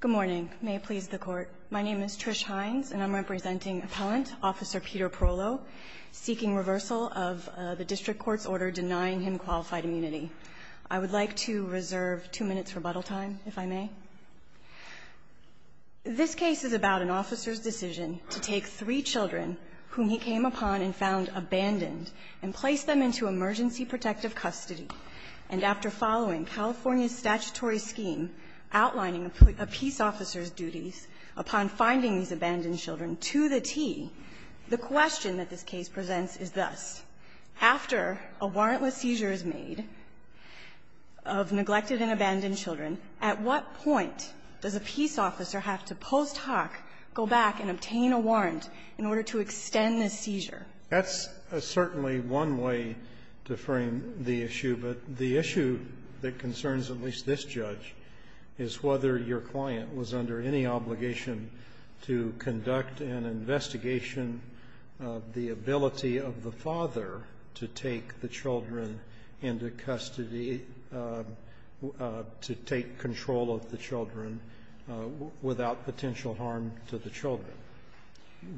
Good morning. May it please the court. My name is Trish Hines, and I'm representing Appellant Officer Peter Prolo, seeking reversal of the district court's order denying him qualified immunity. I would like to reserve two minutes rebuttal time, if I may. This case is about an officer's decision to take three children whom he came upon and found abandoned, and place them into emergency protective custody, and after following California's statutory scheme outlining a peace officer's duties upon finding these abandoned children, to the T, the question that this case presents is thus. After a warrantless seizure is made of neglected and abandoned children, at what point does a peace officer have to post hoc go back and obtain a warrant in order to extend the seizure? That's certainly one way to frame the issue, but the issue that concerns at least this judge is whether your client was under any obligation to conduct an investigation of the ability of the father to take the children into custody, to take control of the children, without potential harm to the children.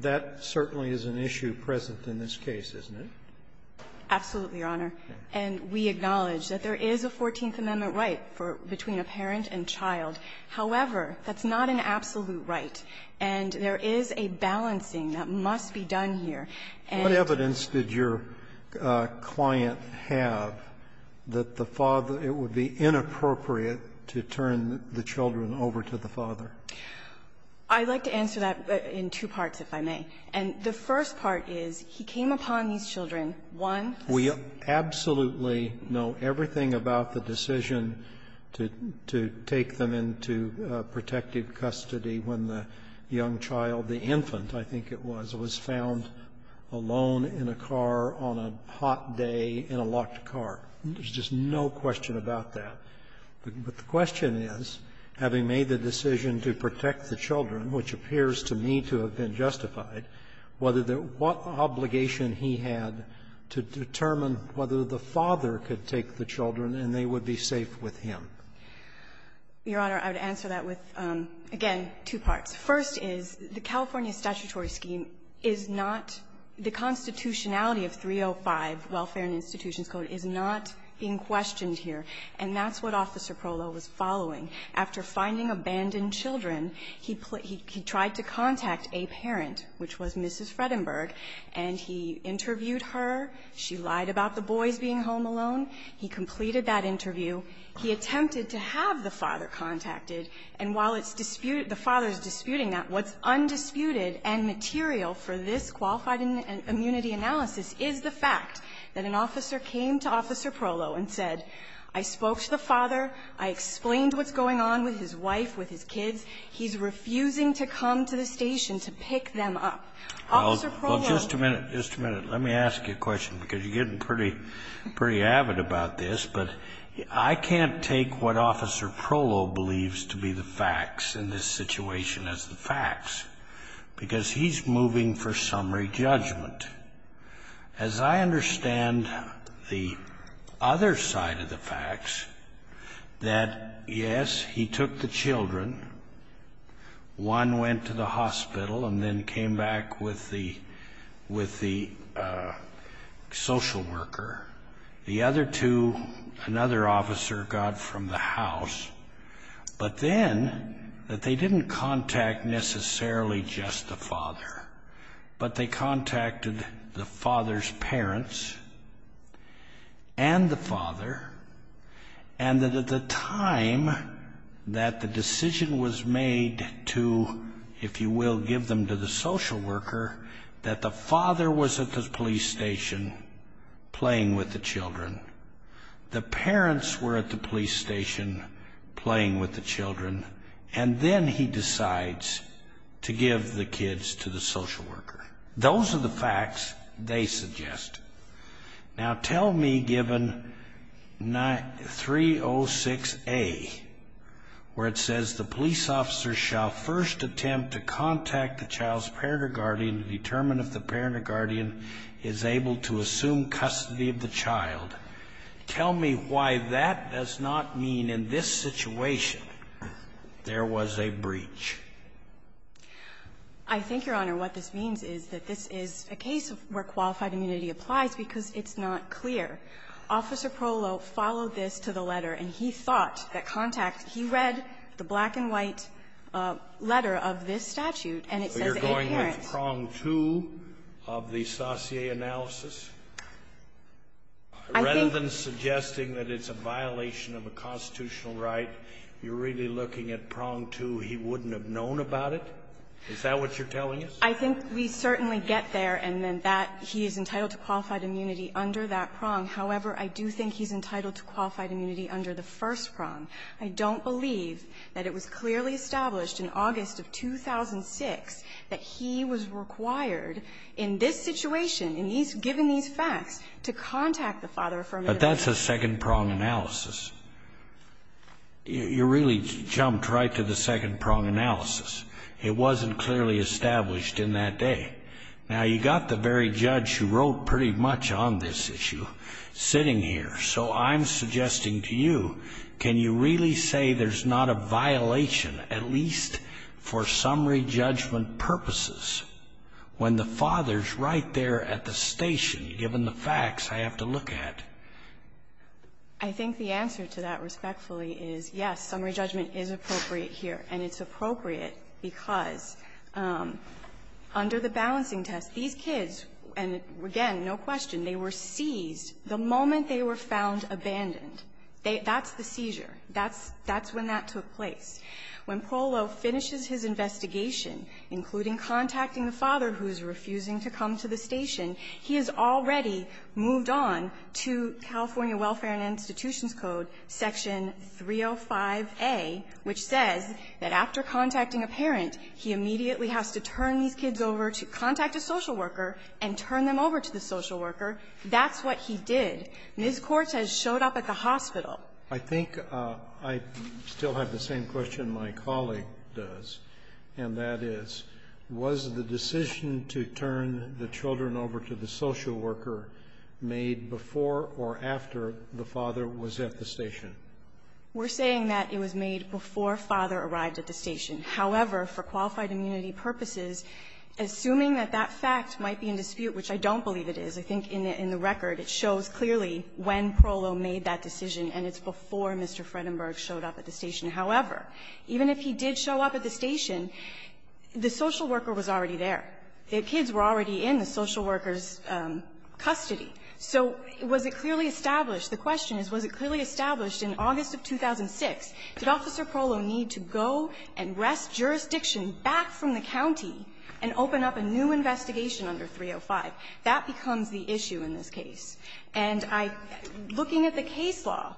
That certainly is an issue present in this case, isn't it? Absolutely, Your Honor. And we acknowledge that there is a Fourteenth Amendment right for between a parent and child. However, that's not an absolute right, and there is a balancing that must be done here. And the evidence did your client have that the father, it would be inappropriate to turn the children over to the father? I'd like to answer that in two parts, if I may. And the first part is he came upon these children, one of whom was the father. We absolutely know everything about the decision to take them into protective custody when the young child, the infant, I think it was, was found alone in a car on a hot day in a locked car. There's just no question about that. But the question is, having made the decision to protect the children, which appears to me to have been justified, whether the what obligation he had to determine whether the father could take the children and they would be safe with him. Your Honor, I would answer that with, again, two parts. First is, the California statutory scheme is not the constitutionality of 305, Welfare and Institutions Code, is not being questioned here. And that's what Officer Prollo was following. After finding abandoned children, he tried to contact a parent, which was Mrs. Fredenberg, and he interviewed her. She lied about the boys being home alone. He completed that interview. He attempted to have the father contacted. And while the father is disputing that, what's undisputed and material for this qualified immunity analysis is the fact that an officer came to Officer Prollo and said, I spoke to the father, I explained what's going on with his wife, with his kids, he's refusing to come to the station to pick them up. Officer Prollo was going to do that. Scalia. Well, just a minute, just a minute. Let me ask you a question, because you're getting pretty, pretty avid about this. But I can't take what Officer Prollo believes to be the facts in this situation as the facts, because he's moving for summary judgment. As I understand the other side of the facts, that, yes, he took the children. One went to the hospital and then came back with the social worker. The other two, another officer got from the house. But then, that they didn't contact necessarily just the father, but they contacted the father's parents and the father. And that at the time that the decision was made to, if you will, give them to the social worker, that the father was at the police station playing with the children. The parents were at the police station playing with the children. And then he decides to give the kids to the social worker. Those are the facts they suggest. Now, tell me, given 306A, where it says, the police officer shall first attempt to contact the child's parent or guardian to determine if the parent or guardian is able to assume custody of the child, tell me why that does not mean in this situation there was a breach. I think, Your Honor, what this means is that this is a case where qualified immunity applies because it's not clear. Officer Prollo followed this to the letter, and he thought that contact he read the black and white letter of this statute, and it says, and parents. So you're going with prong two of the Saussure analysis? I think that's a violation of a constitutional right. You're really looking at prong two. He wouldn't have known about it? Is that what you're telling us? I think we certainly get there and that he is entitled to qualified immunity under that prong. However, I do think he's entitled to qualified immunity under the first prong. I don't believe that it was clearly established in August of 2006 that he was required in this situation, in these – given these facts, to contact the father affirmatively. But that's a second prong analysis. You really jumped right to the second prong analysis. It wasn't clearly established in that day. Now, you got the very judge who wrote pretty much on this issue sitting here. So I'm suggesting to you, can you really say there's not a violation, at least for summary judgment purposes, when the father is right there at the station, given the facts I have to look at? I think the answer to that respectfully is, yes, summary judgment is appropriate here, and it's appropriate because under the balancing test, these kids, and again, no question, they were seized the moment they were found abandoned. That's the seizure. That's when that took place. When Polo finishes his investigation, including contacting the father who's refusing to come to the station, he has already moved on to California Welfare and Institutions Code section 305a, which says that after contacting a parent, he immediately has to turn these kids over to contact a social worker and turn them over to the social worker. That's what he did. Ms. Quartz has showed up at the hospital. I think I still have the same question my colleague does, and that is, was the decision to turn the children over to the social worker made before or after the father was at the station? We're saying that it was made before father arrived at the station. However, for qualified immunity purposes, assuming that that fact might be in dispute, which I don't believe it is, I think in the record it shows clearly when Polo made that decision, and it's before Mr. Fredenberg showed up at the station. However, even if he did show up at the station, the social worker was already there. The kids were already in the social worker's custody. So was it clearly established? The question is, was it clearly established in August of 2006, did Officer Polo need to go and wrest jurisdiction back from the county and open up a new investigation under 305? That becomes the issue in this case. And I am looking at the case law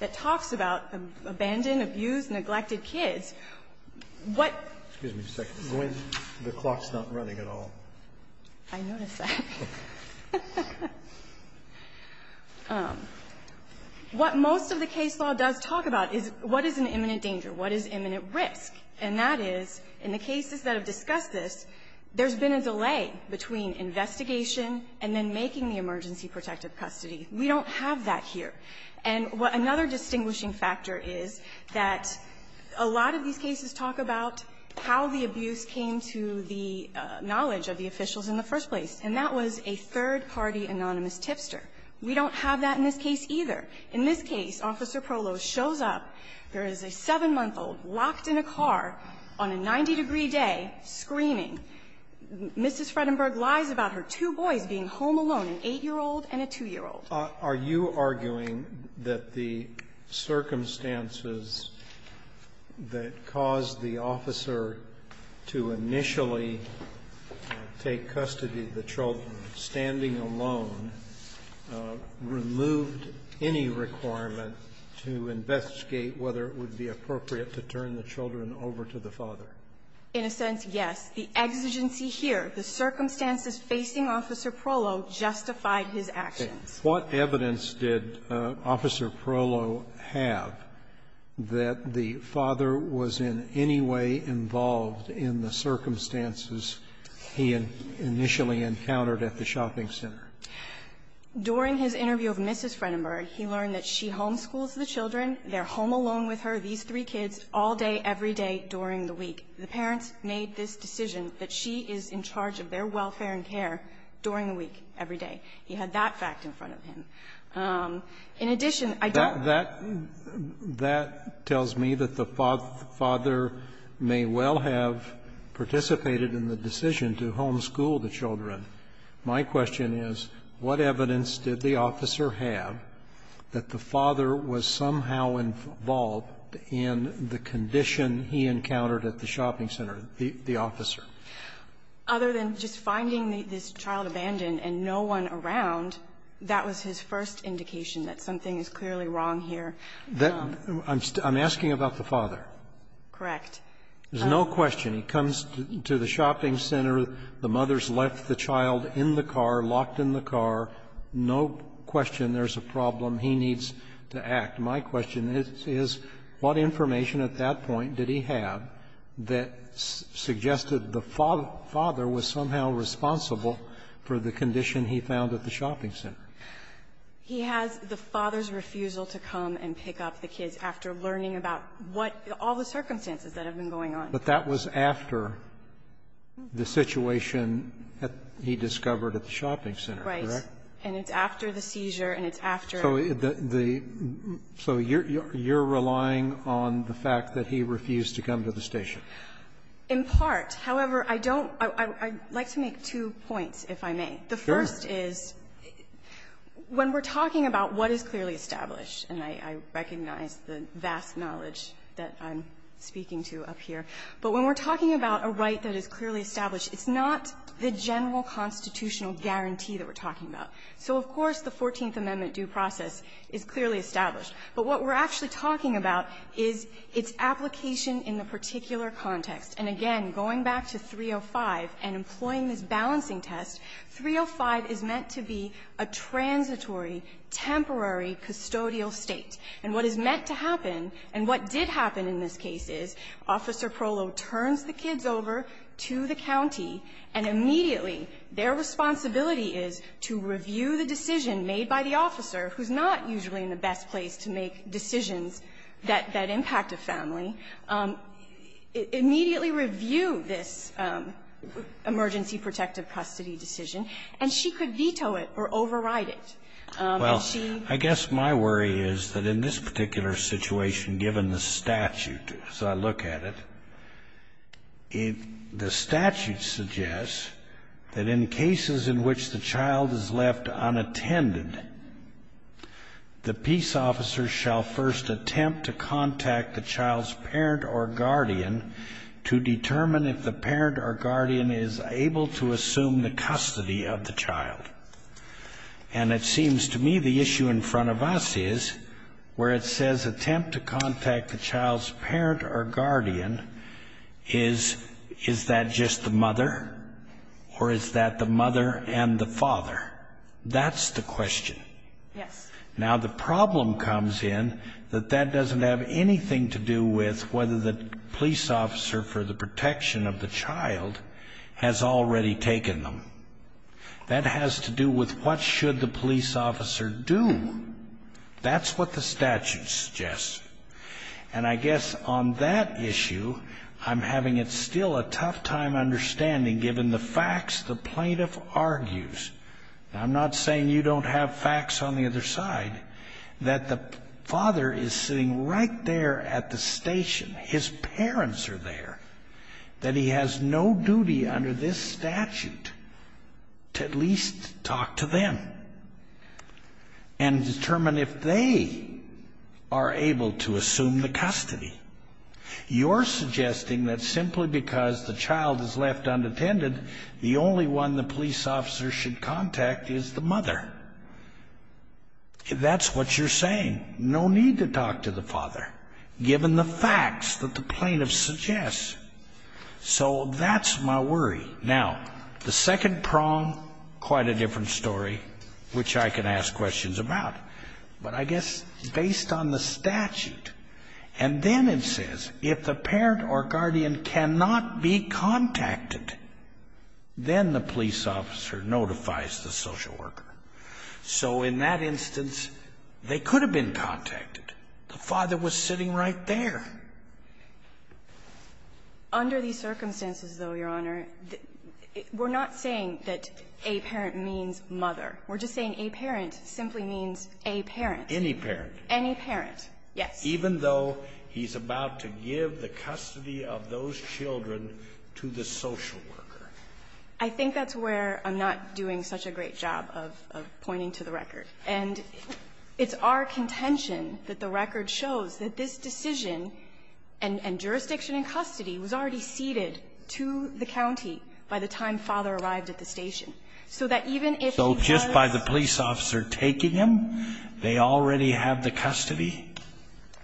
that talks about abandon, abuse, neglected kids. What the clock's not running. I noticed that. What most of the case law does talk about is what is an imminent danger, what is imminent risk. And that is, in the cases that have discussed this, there's been a delay between investigation and then making the emergency protective custody. We don't have that here. And what another distinguishing factor is that a lot of these cases talk about how the abuse came to the knowledge of the officials in the first place. And that was a third-party anonymous tipster. We don't have that in this case either. In this case, Officer Polo shows up. There is a 7-month-old locked in a car on a 90-degree day, screaming. Mrs. Fredenberg lies about her two boys being home alone, an 8-year-old and a 2-year-old. Roberts, are you arguing that the circumstances that caused the officer to initially take custody of the children, standing alone, removed any requirement to investigate whether it would be appropriate to turn the children over to the father? In a sense, yes. The exigency here, the circumstances facing Officer Polo, justified his actions. What evidence did Officer Polo have that the father was in any way involved in the circumstances he initially encountered at the shopping center? During his interview with Mrs. Fredenberg, he learned that she homeschools the children, they're home alone with her, these three kids, all day, every day, during the week. The parents made this decision that she is in charge of their welfare and care during the week, every day. He had that fact in front of him. In addition, I don't know. That tells me that the father may well have participated in the decision to homeschool the children. My question is, what evidence did the officer have that the father was somehow involved in the condition he encountered at the shopping center, the officer? Other than just finding this child abandoned and no one around, that was his first indication that something is clearly wrong here. I'm asking about the father. Correct. There's no question. He comes to the shopping center. The mother's left the child in the car, locked in the car. No question there's a problem. He needs to act. In fact, my question is, what information at that point did he have that suggested the father was somehow responsible for the condition he found at the shopping center? He has the father's refusal to come and pick up the kids after learning about what all the circumstances that have been going on. But that was after the situation that he discovered at the shopping center, correct? Right. So you're relying on the fact that he refused to come to the station? In part. However, I don't – I'd like to make two points, if I may. Sure. The first is, when we're talking about what is clearly established, and I recognize the vast knowledge that I'm speaking to up here, but when we're talking about a right that is clearly established, it's not the general constitutional guarantee that we're talking about. So, of course, the Fourteenth Amendment due process is clearly established. But what we're actually talking about is its application in the particular context. And again, going back to 305 and employing this balancing test, 305 is meant to be a transitory, temporary custodial State. And what is meant to happen, and what did happen in this case, is Officer Prolo turns the kids over to the county, and immediately their responsibility is to review the decision made by the officer, who's not usually in the best place to make decisions that impact a family, immediately review this emergency protective custody decision. And she could veto it or override it. And she – Well, I guess my worry is that in this particular situation, given the statute as I look at it, the statute suggests that in cases in which the child is left unattended, the peace officer shall first attempt to contact the child's parent or guardian to determine if the parent or guardian is able to assume the custody of the child. And it seems to me the issue in front of us is where it says attempt to contact the child's parent or guardian is, is that just the mother? Or is that the mother and the father? That's the question. Yes. Now, the problem comes in that that doesn't have anything to do with whether the police officer for the protection of the child has already taken them. That has to do with what should the police officer do? That's what the statute suggests. And I guess on that issue, I'm having it's still a tough time understanding given the facts the plaintiff argues. Now, I'm not saying you don't have facts on the other side. That the father is sitting right there at the station. His parents are there. That he has no duty under this statute to at least talk to them. And determine if they are able to assume the custody. You're suggesting that simply because the child is left unattended, the only one the police officer should contact is the mother. That's what you're saying. No need to talk to the father, given the facts that the plaintiff suggests. So that's my worry. Now, the second prong, quite a different story, which I can ask questions about. But I guess based on the statute, and then it says if the parent or guardian cannot be contacted, then the police officer notifies the social worker. So in that instance, they could have been contacted. The father was sitting right there. Under these circumstances, though, Your Honor, we're not saying that a parent means mother. We're just saying a parent simply means a parent. Any parent. Any parent, yes. Even though he's about to give the custody of those children to the social worker. I think that's where I'm not doing such a great job of pointing to the record. And it's our contention that the record shows that this decision, and jurisdiction in custody, was already ceded to the county by the time father arrived at the station. So that even if he does So just by the police officer taking him, they already have the custody?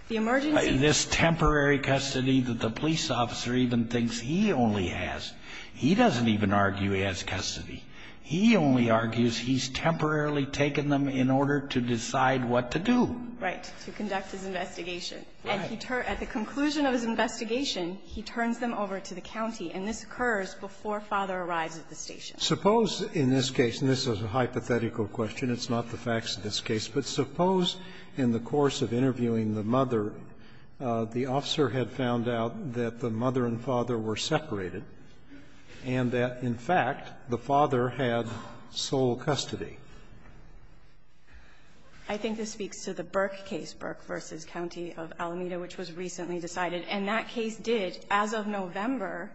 The emergency. This temporary custody that the police officer even thinks he only has, he doesn't even argue he has custody. He only argues he's temporarily taken them in order to decide what to do. Right. To conduct his investigation. And he turns, at the conclusion of his investigation, he turns them over to the county. And this occurs before father arrives at the station. Suppose in this case, and this is a hypothetical question, it's not the facts of this case, but suppose in the course of interviewing the mother, the officer had found out that the mother and father were separated, and that, in fact, the father had sole custody. I think this speaks to the Burke case, Burke v. County of Alameda, which was recently decided. And that case did, as of November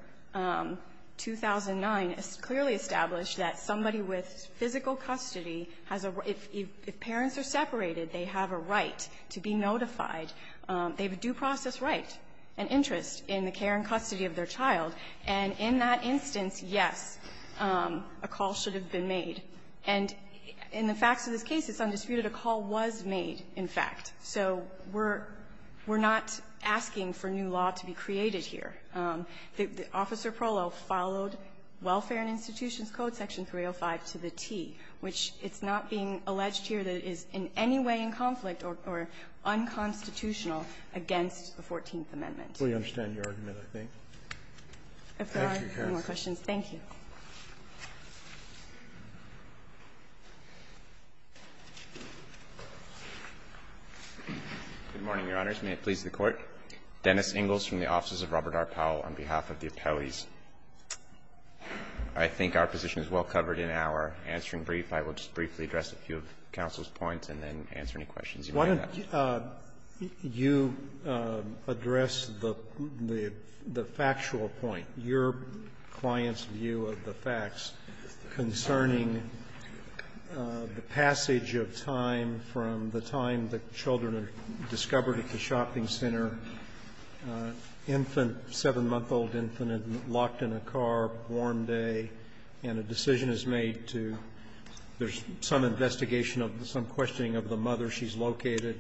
2009, clearly establish that somebody with physical custody has a If parents are separated, they have a right to be notified. They have a due process right. An interest in the care and custody of their child. And in that instance, yes, a call should have been made. And in the facts of this case, it's undisputed a call was made, in fact. So we're not asking for new law to be created here. Officer Prolo followed Welfare and Institutions Code section 305 to the T, which it's not being alleged here that it is in any way in conflict or unconstitutional against the Fourteenth Amendment. Roberts. If there are no more questions, thank you. Inglis, from the offices of Robert R. Powell, on behalf of the appellees. I think our position is well covered in our answering brief. I will just briefly address a few of counsel's points and then answer any questions you may have. Roberts, you address the factual point, your client's view of the facts, concerning the passage of time from the time the children are discovered at the shopping center, infant, 7-month-old infant locked in a car, warm day, and a decision is made to there's some investigation of some questioning of the mother, she's located,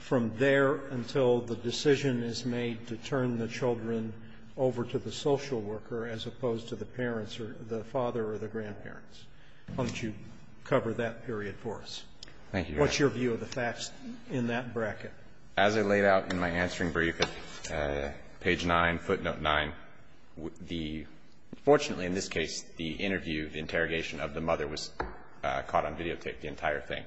from there until the decision is made to turn the children over to the social worker as opposed to the parents or the father or the grandparents. Why don't you cover that period for us? Thank you, Your Honor. What's your view of the facts in that bracket? As I laid out in my answering brief at page 9, footnote 9, the — fortunately, in this case, the interview, the interrogation of the mother was caught on videotape, the entire thing.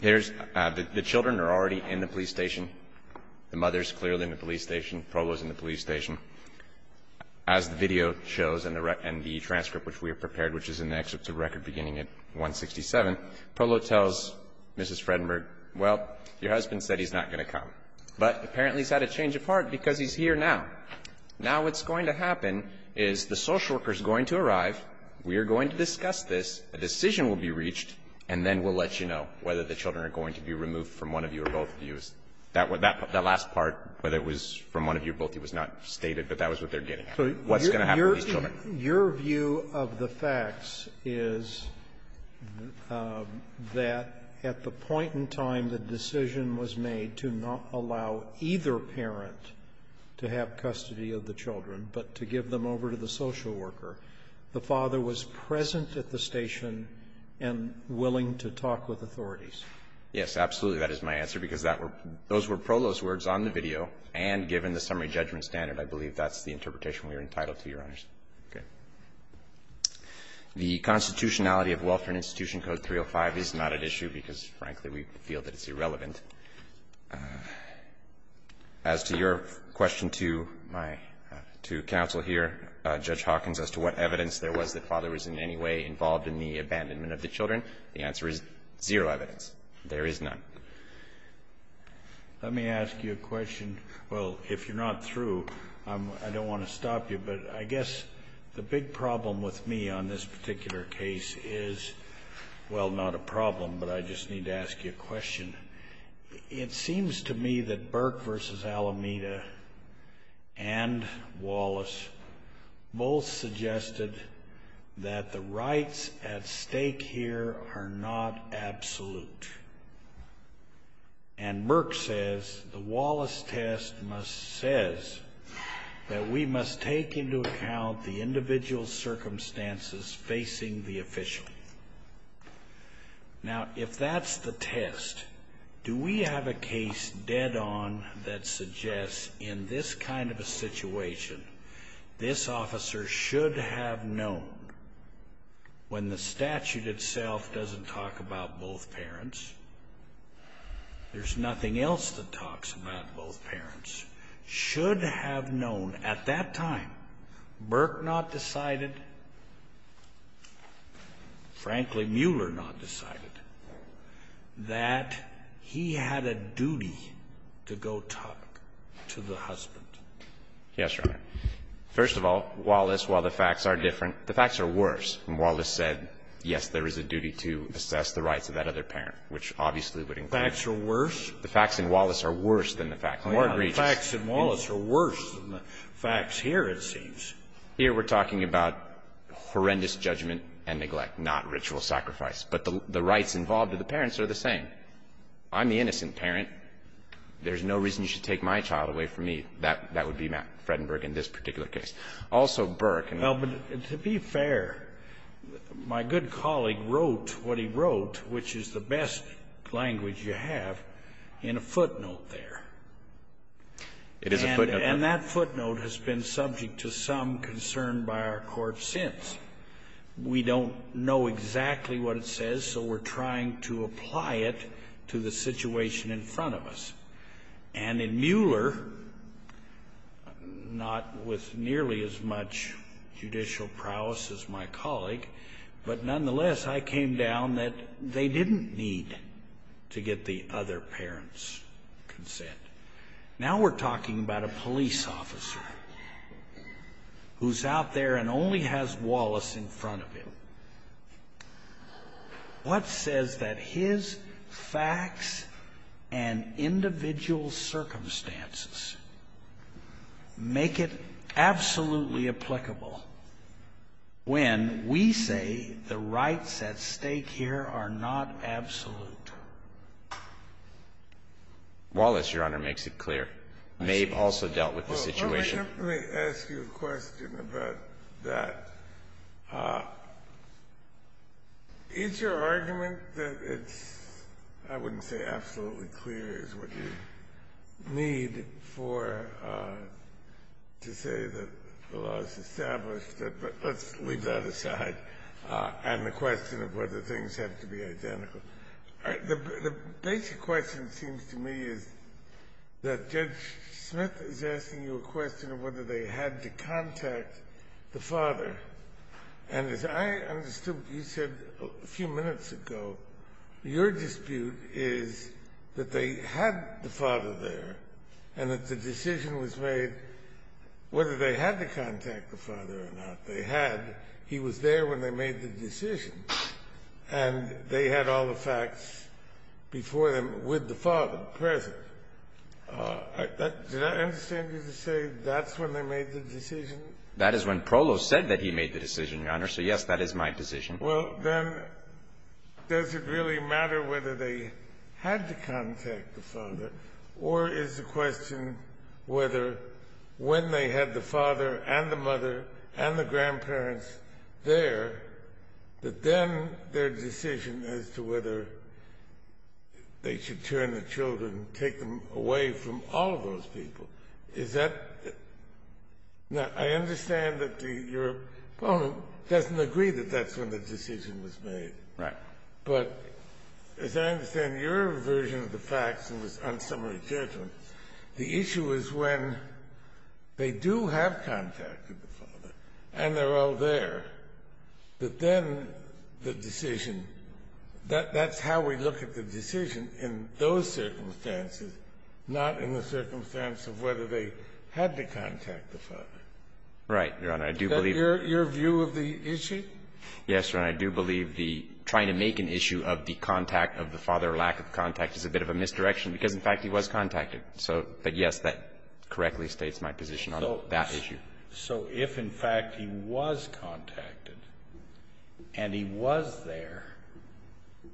Here's — the children are already in the police station. The mother is clearly in the police station. Polo is in the police station. As the video shows and the transcript which we have prepared, which is in the excerpt to record beginning at 167, Polo tells Mrs. Fredenberg, well, your husband said he's not going to come, but apparently he's had a change of heart because he's here now. Now what's going to happen is the social worker is going to arrive. We are going to discuss this. A decision will be reached, and then we'll let you know whether the children are going to be removed from one of you or both of you. That last part, whether it was from one of you or both of you, was not stated, but that was what they're getting at, what's going to happen to these children. So your view of the facts is that at the point in time the decision was made to not allow either parent to have custody of the children, but to give them over to the police station, and willing to talk with authorities. Yes, absolutely. That is my answer, because that were those were Polo's words on the video, and given the summary judgment standard, I believe that's the interpretation we are entitled to, Your Honors. Okay. The constitutionality of Welfare and Institution Code 305 is not at issue because, frankly, we feel that it's irrelevant. As to your question to my two counsel here, Judge Hawkins, as to what evidence there was that the father was in any way involved in the abandonment of the children, the answer is zero evidence. There is none. Let me ask you a question. Well, if you're not through, I don't want to stop you, but I guess the big problem with me on this particular case is, well, not a problem, but I just need to ask you a question. It seems to me that Burke v. Alameda and Wallace both suggested that the father was in any way involved in the abandonment of the children, and they both said that the rights at stake here are not absolute. And Burke says, the Wallace test says that we must take into account the individual circumstances facing the official. Now, if that's the test, do we have a case dead on that suggests in this kind of a case that the father should have known when the statute itself doesn't talk about both parents, there's nothing else that talks about both parents, should have known at that time, Burke not decided, frankly, Mueller not decided, that he had a duty to go talk to the husband? Yes, Your Honor. First of all, Wallace, while the facts are different, the facts are worse. And Wallace said, yes, there is a duty to assess the rights of that other parent, which obviously would include. Facts are worse? The facts in Wallace are worse than the facts. The facts in Wallace are worse than the facts here, it seems. Here we're talking about horrendous judgment and neglect, not ritual sacrifice. But the rights involved to the parents are the same. I'm the innocent parent. There's no reason you should take my child away from me. That would be Matt Fredenberg in this particular case. Also, Burke. Well, but to be fair, my good colleague wrote what he wrote, which is the best language you have, in a footnote there. It is a footnote. And that footnote has been subject to some concern by our Court since. We don't know exactly what it says, so we're trying to apply it to the situation in front of us. And in Mueller, not with nearly as much judicial prowess as my colleague, but nonetheless, I came down that they didn't need to get the other parent's consent. Now we're talking about a police officer who's out there and only has Wallace in front of him. What says that his facts and individual circumstances make it absolutely applicable when we say the rights at stake here are not absolute? Wallace, Your Honor, makes it clear. Mabe also dealt with the situation. Let me ask you a question about that. Is your argument that it's, I wouldn't say absolutely clear is what you need for to say that the law is established, but let's leave that aside, and the question of whether things have to be identical. The basic question, it seems to me, is that Judge Smith is asking you a question of whether they had to contact the father. And as I understood, you said a few minutes ago, your dispute is that they had the father there and that the decision was made whether they had to contact the father or not. They had. He was there when they made the decision. And they had all the facts before them with the father present. Did I understand you to say that's when they made the decision? That is when Prolos said that he made the decision, Your Honor. So, yes, that is my decision. Well, then, does it really matter whether they had to contact the father or is the question whether when they had the father and the mother and the grandparents there, that then their decision as to whether they should turn the children, take them away from all of those people, is that? Now, I understand that your opponent doesn't agree that that's when the decision was made. Right. But as I understand your version of the facts in this unsummary judgment, the issue is when they do have contact with the father and they're all there, that then the decision that that's how we look at the decision in those circumstances, not in the circumstance of whether they had to contact the father. Right, Your Honor. I do believe that. Is that your view of the issue? Yes, Your Honor. I do believe the trying to make an issue of the contact of the father or lack of contact is a bit of a misdirection because, in fact, he was contacted. Right. But, yes, that correctly states my position on that issue. So if, in fact, he was contacted and he was there,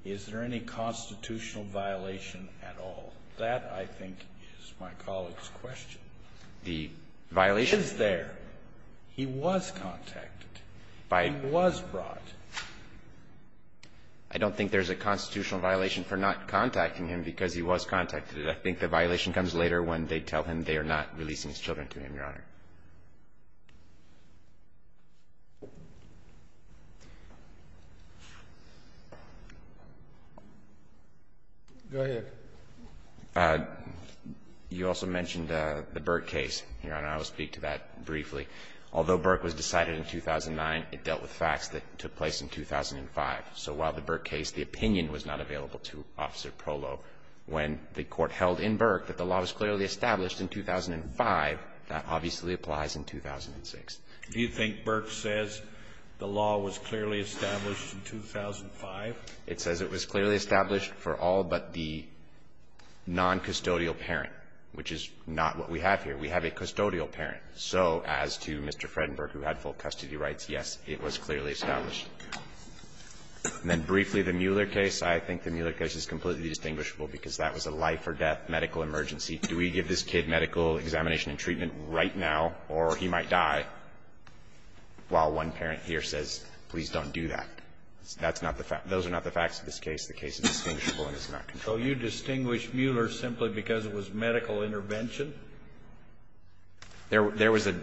is there any constitutional violation at all? That, I think, is my colleague's question. The violation? He is there. He was contacted. He was brought. I don't think there's a constitutional violation for not contacting him because he was contacted. I think the violation comes later when they tell him they are not releasing his children to him, Your Honor. Go ahead. You also mentioned the Burke case. Your Honor, I will speak to that briefly. Although Burke was decided in 2009, it dealt with facts that took place in 2005. So while the Burke case, the opinion was not available to Officer Prolo, when the court held in Burke that the law was clearly established in 2005, that obviously applies in 2006. Do you think Burke says the law was clearly established in 2005? It says it was clearly established for all but the noncustodial parent, which is not what we have here. We have a custodial parent. So as to Mr. Fredenberg, who had full custody rights, yes, it was clearly established. And then briefly, the Mueller case. I think the Mueller case is completely distinguishable because that was a life-or-death medical emergency. Do we give this kid medical examination and treatment right now or he might die? While one parent here says, please don't do that. That's not the fact. Those are not the facts of this case. The case is distinguishable and it's not controlled. So you distinguish Mueller simply because it was medical intervention? There was a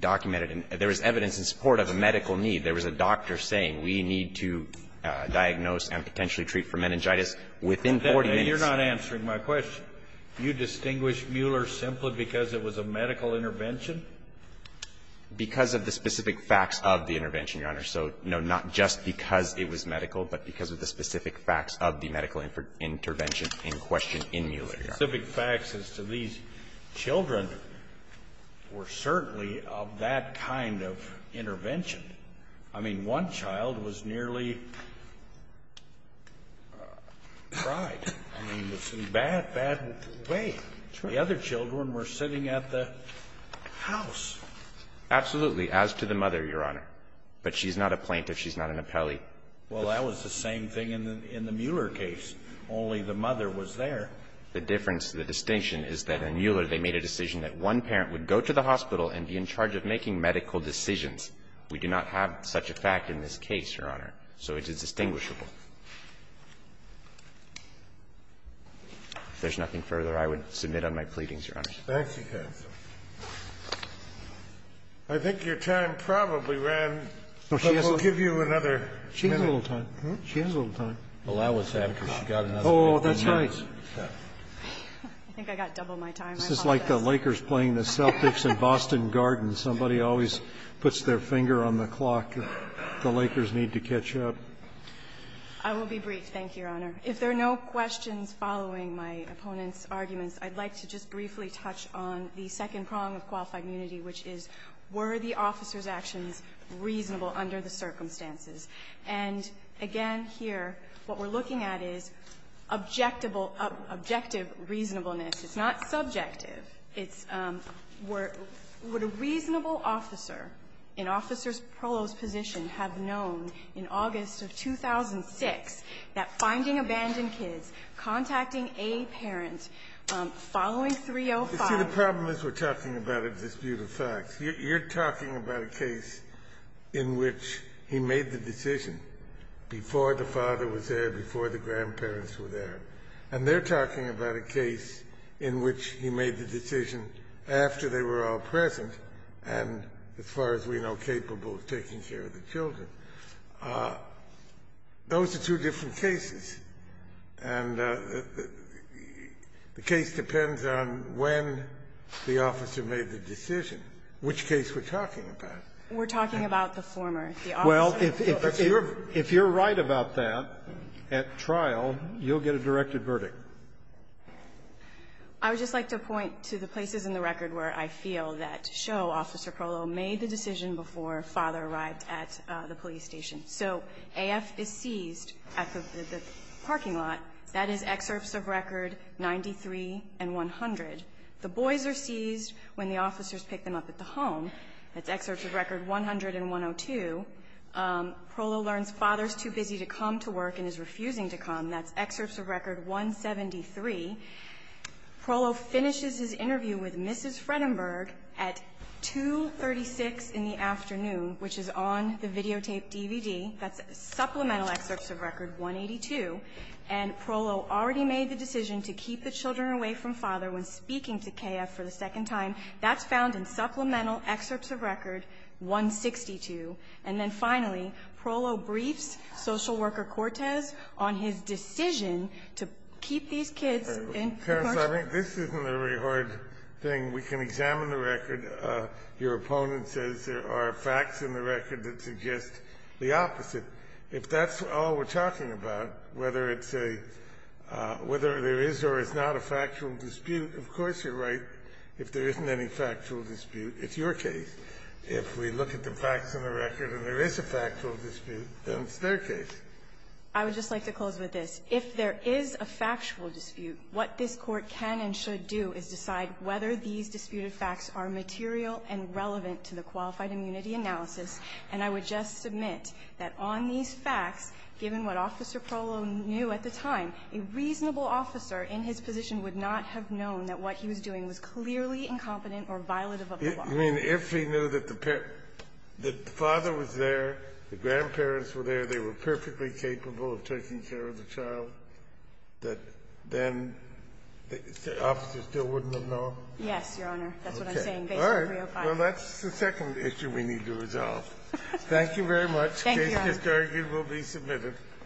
documented and there was evidence in support of a medical need. There was a doctor saying we need to diagnose and potentially treat for meningitis within 40 minutes. Then you're not answering my question. You distinguish Mueller simply because it was a medical intervention? Because of the specific facts of the intervention, Your Honor. So, no, not just because it was medical, but because of the specific facts of the medical intervention in question in Mueller, Your Honor. Specific facts as to these children were certainly of that kind of intervention. I mean, one child was nearly fried. I mean, it was in a bad, bad way. The other children were sitting at the house. Absolutely, as to the mother, Your Honor. But she's not a plaintiff. She's not an appellee. Well, that was the same thing in the Mueller case. Only the mother was there. The difference, the distinction is that in Mueller they made a decision that one parent would go to the hospital and be in charge of making medical decisions. We do not have such a fact in this case, Your Honor. So it is distinguishable. If there's nothing further, I would submit on my pleadings, Your Honor. Thank you, counsel. I think your time probably ran, but we'll give you another minute. She has a little time. She has a little time. Allowance after she got another minute. Oh, that's right. I think I got double my time. This is like the Lakers playing the Celtics in Boston Gardens. Somebody always puts their finger on the clock. The Lakers need to catch up. I will be brief. Thank you, Your Honor. If there are no questions following my opponent's arguments, I'd like to just briefly touch on the second prong of qualified immunity, which is were the officer's actions reasonable under the circumstances? And, again, here what we're looking at is objective reasonableness. It's not subjective. It's would a reasonable officer in Officer Prollo's position have known in August of 2006 that finding abandoned kids, contacting a parent following 305. You see, the problem is we're talking about a dispute of facts. You're talking about a case in which he made the decision before the father was there, before the grandparents were there. And they're talking about a case in which he made the decision after they were all present and, as far as we know, capable of taking care of the children. Those are two different cases. And the case depends on when the officer made the decision, which case we're talking about. We're talking about the former. The officer. Well, if you're right about that at trial, you'll get a directed verdict. I would just like to point to the places in the record where I feel that show Officer Prollo made the decision before father arrived at the police station. So AF is seized at the parking lot. That is excerpts of record 93 and 100. The boys are seized when the officers pick them up at the home. That's excerpts of record 100 and 102. Prollo learns father's too busy to come to work and is refusing to come. That's excerpts of record 173. Prollo finishes his interview with Mrs. Fredenberg at 2.36 in the afternoon, which is on the videotape DVD. That's supplemental excerpts of record 182. And Prollo already made the decision to keep the children away from father when speaking to KF for the second time. That's found in supplemental excerpts of record 162. And then finally, Prollo briefs Social Worker Cortez on his decision to keep these kids in the parking lot. This isn't a very hard thing. We can examine the record. Your opponent says there are facts in the record that suggest the opposite. If that's all we're talking about, whether it's a – whether there is or is not a factual dispute, of course you're right if there isn't any factual dispute. It's your case. If we look at the facts of the record and there is a factual dispute, then it's their case. I would just like to close with this. If there is a factual dispute, what this Court can and should do is decide whether these disputed facts are material and relevant to the qualified immunity analysis. And I would just submit that on these facts, given what Officer Prollo knew at the time, a reasonable officer in his position would not have known that what he was doing was clearly incompetent or violative of the law. You mean if he knew that the father was there, the grandparents were there, they were perfectly capable of taking care of the child, that then the officer still wouldn't have known? Yes, Your Honor. That's what I'm saying based on 305. Okay. All right. Well, that's the second issue we need to resolve. Thank you very much. Thank you, Your Honor. The case is adjourned. You will be submitted.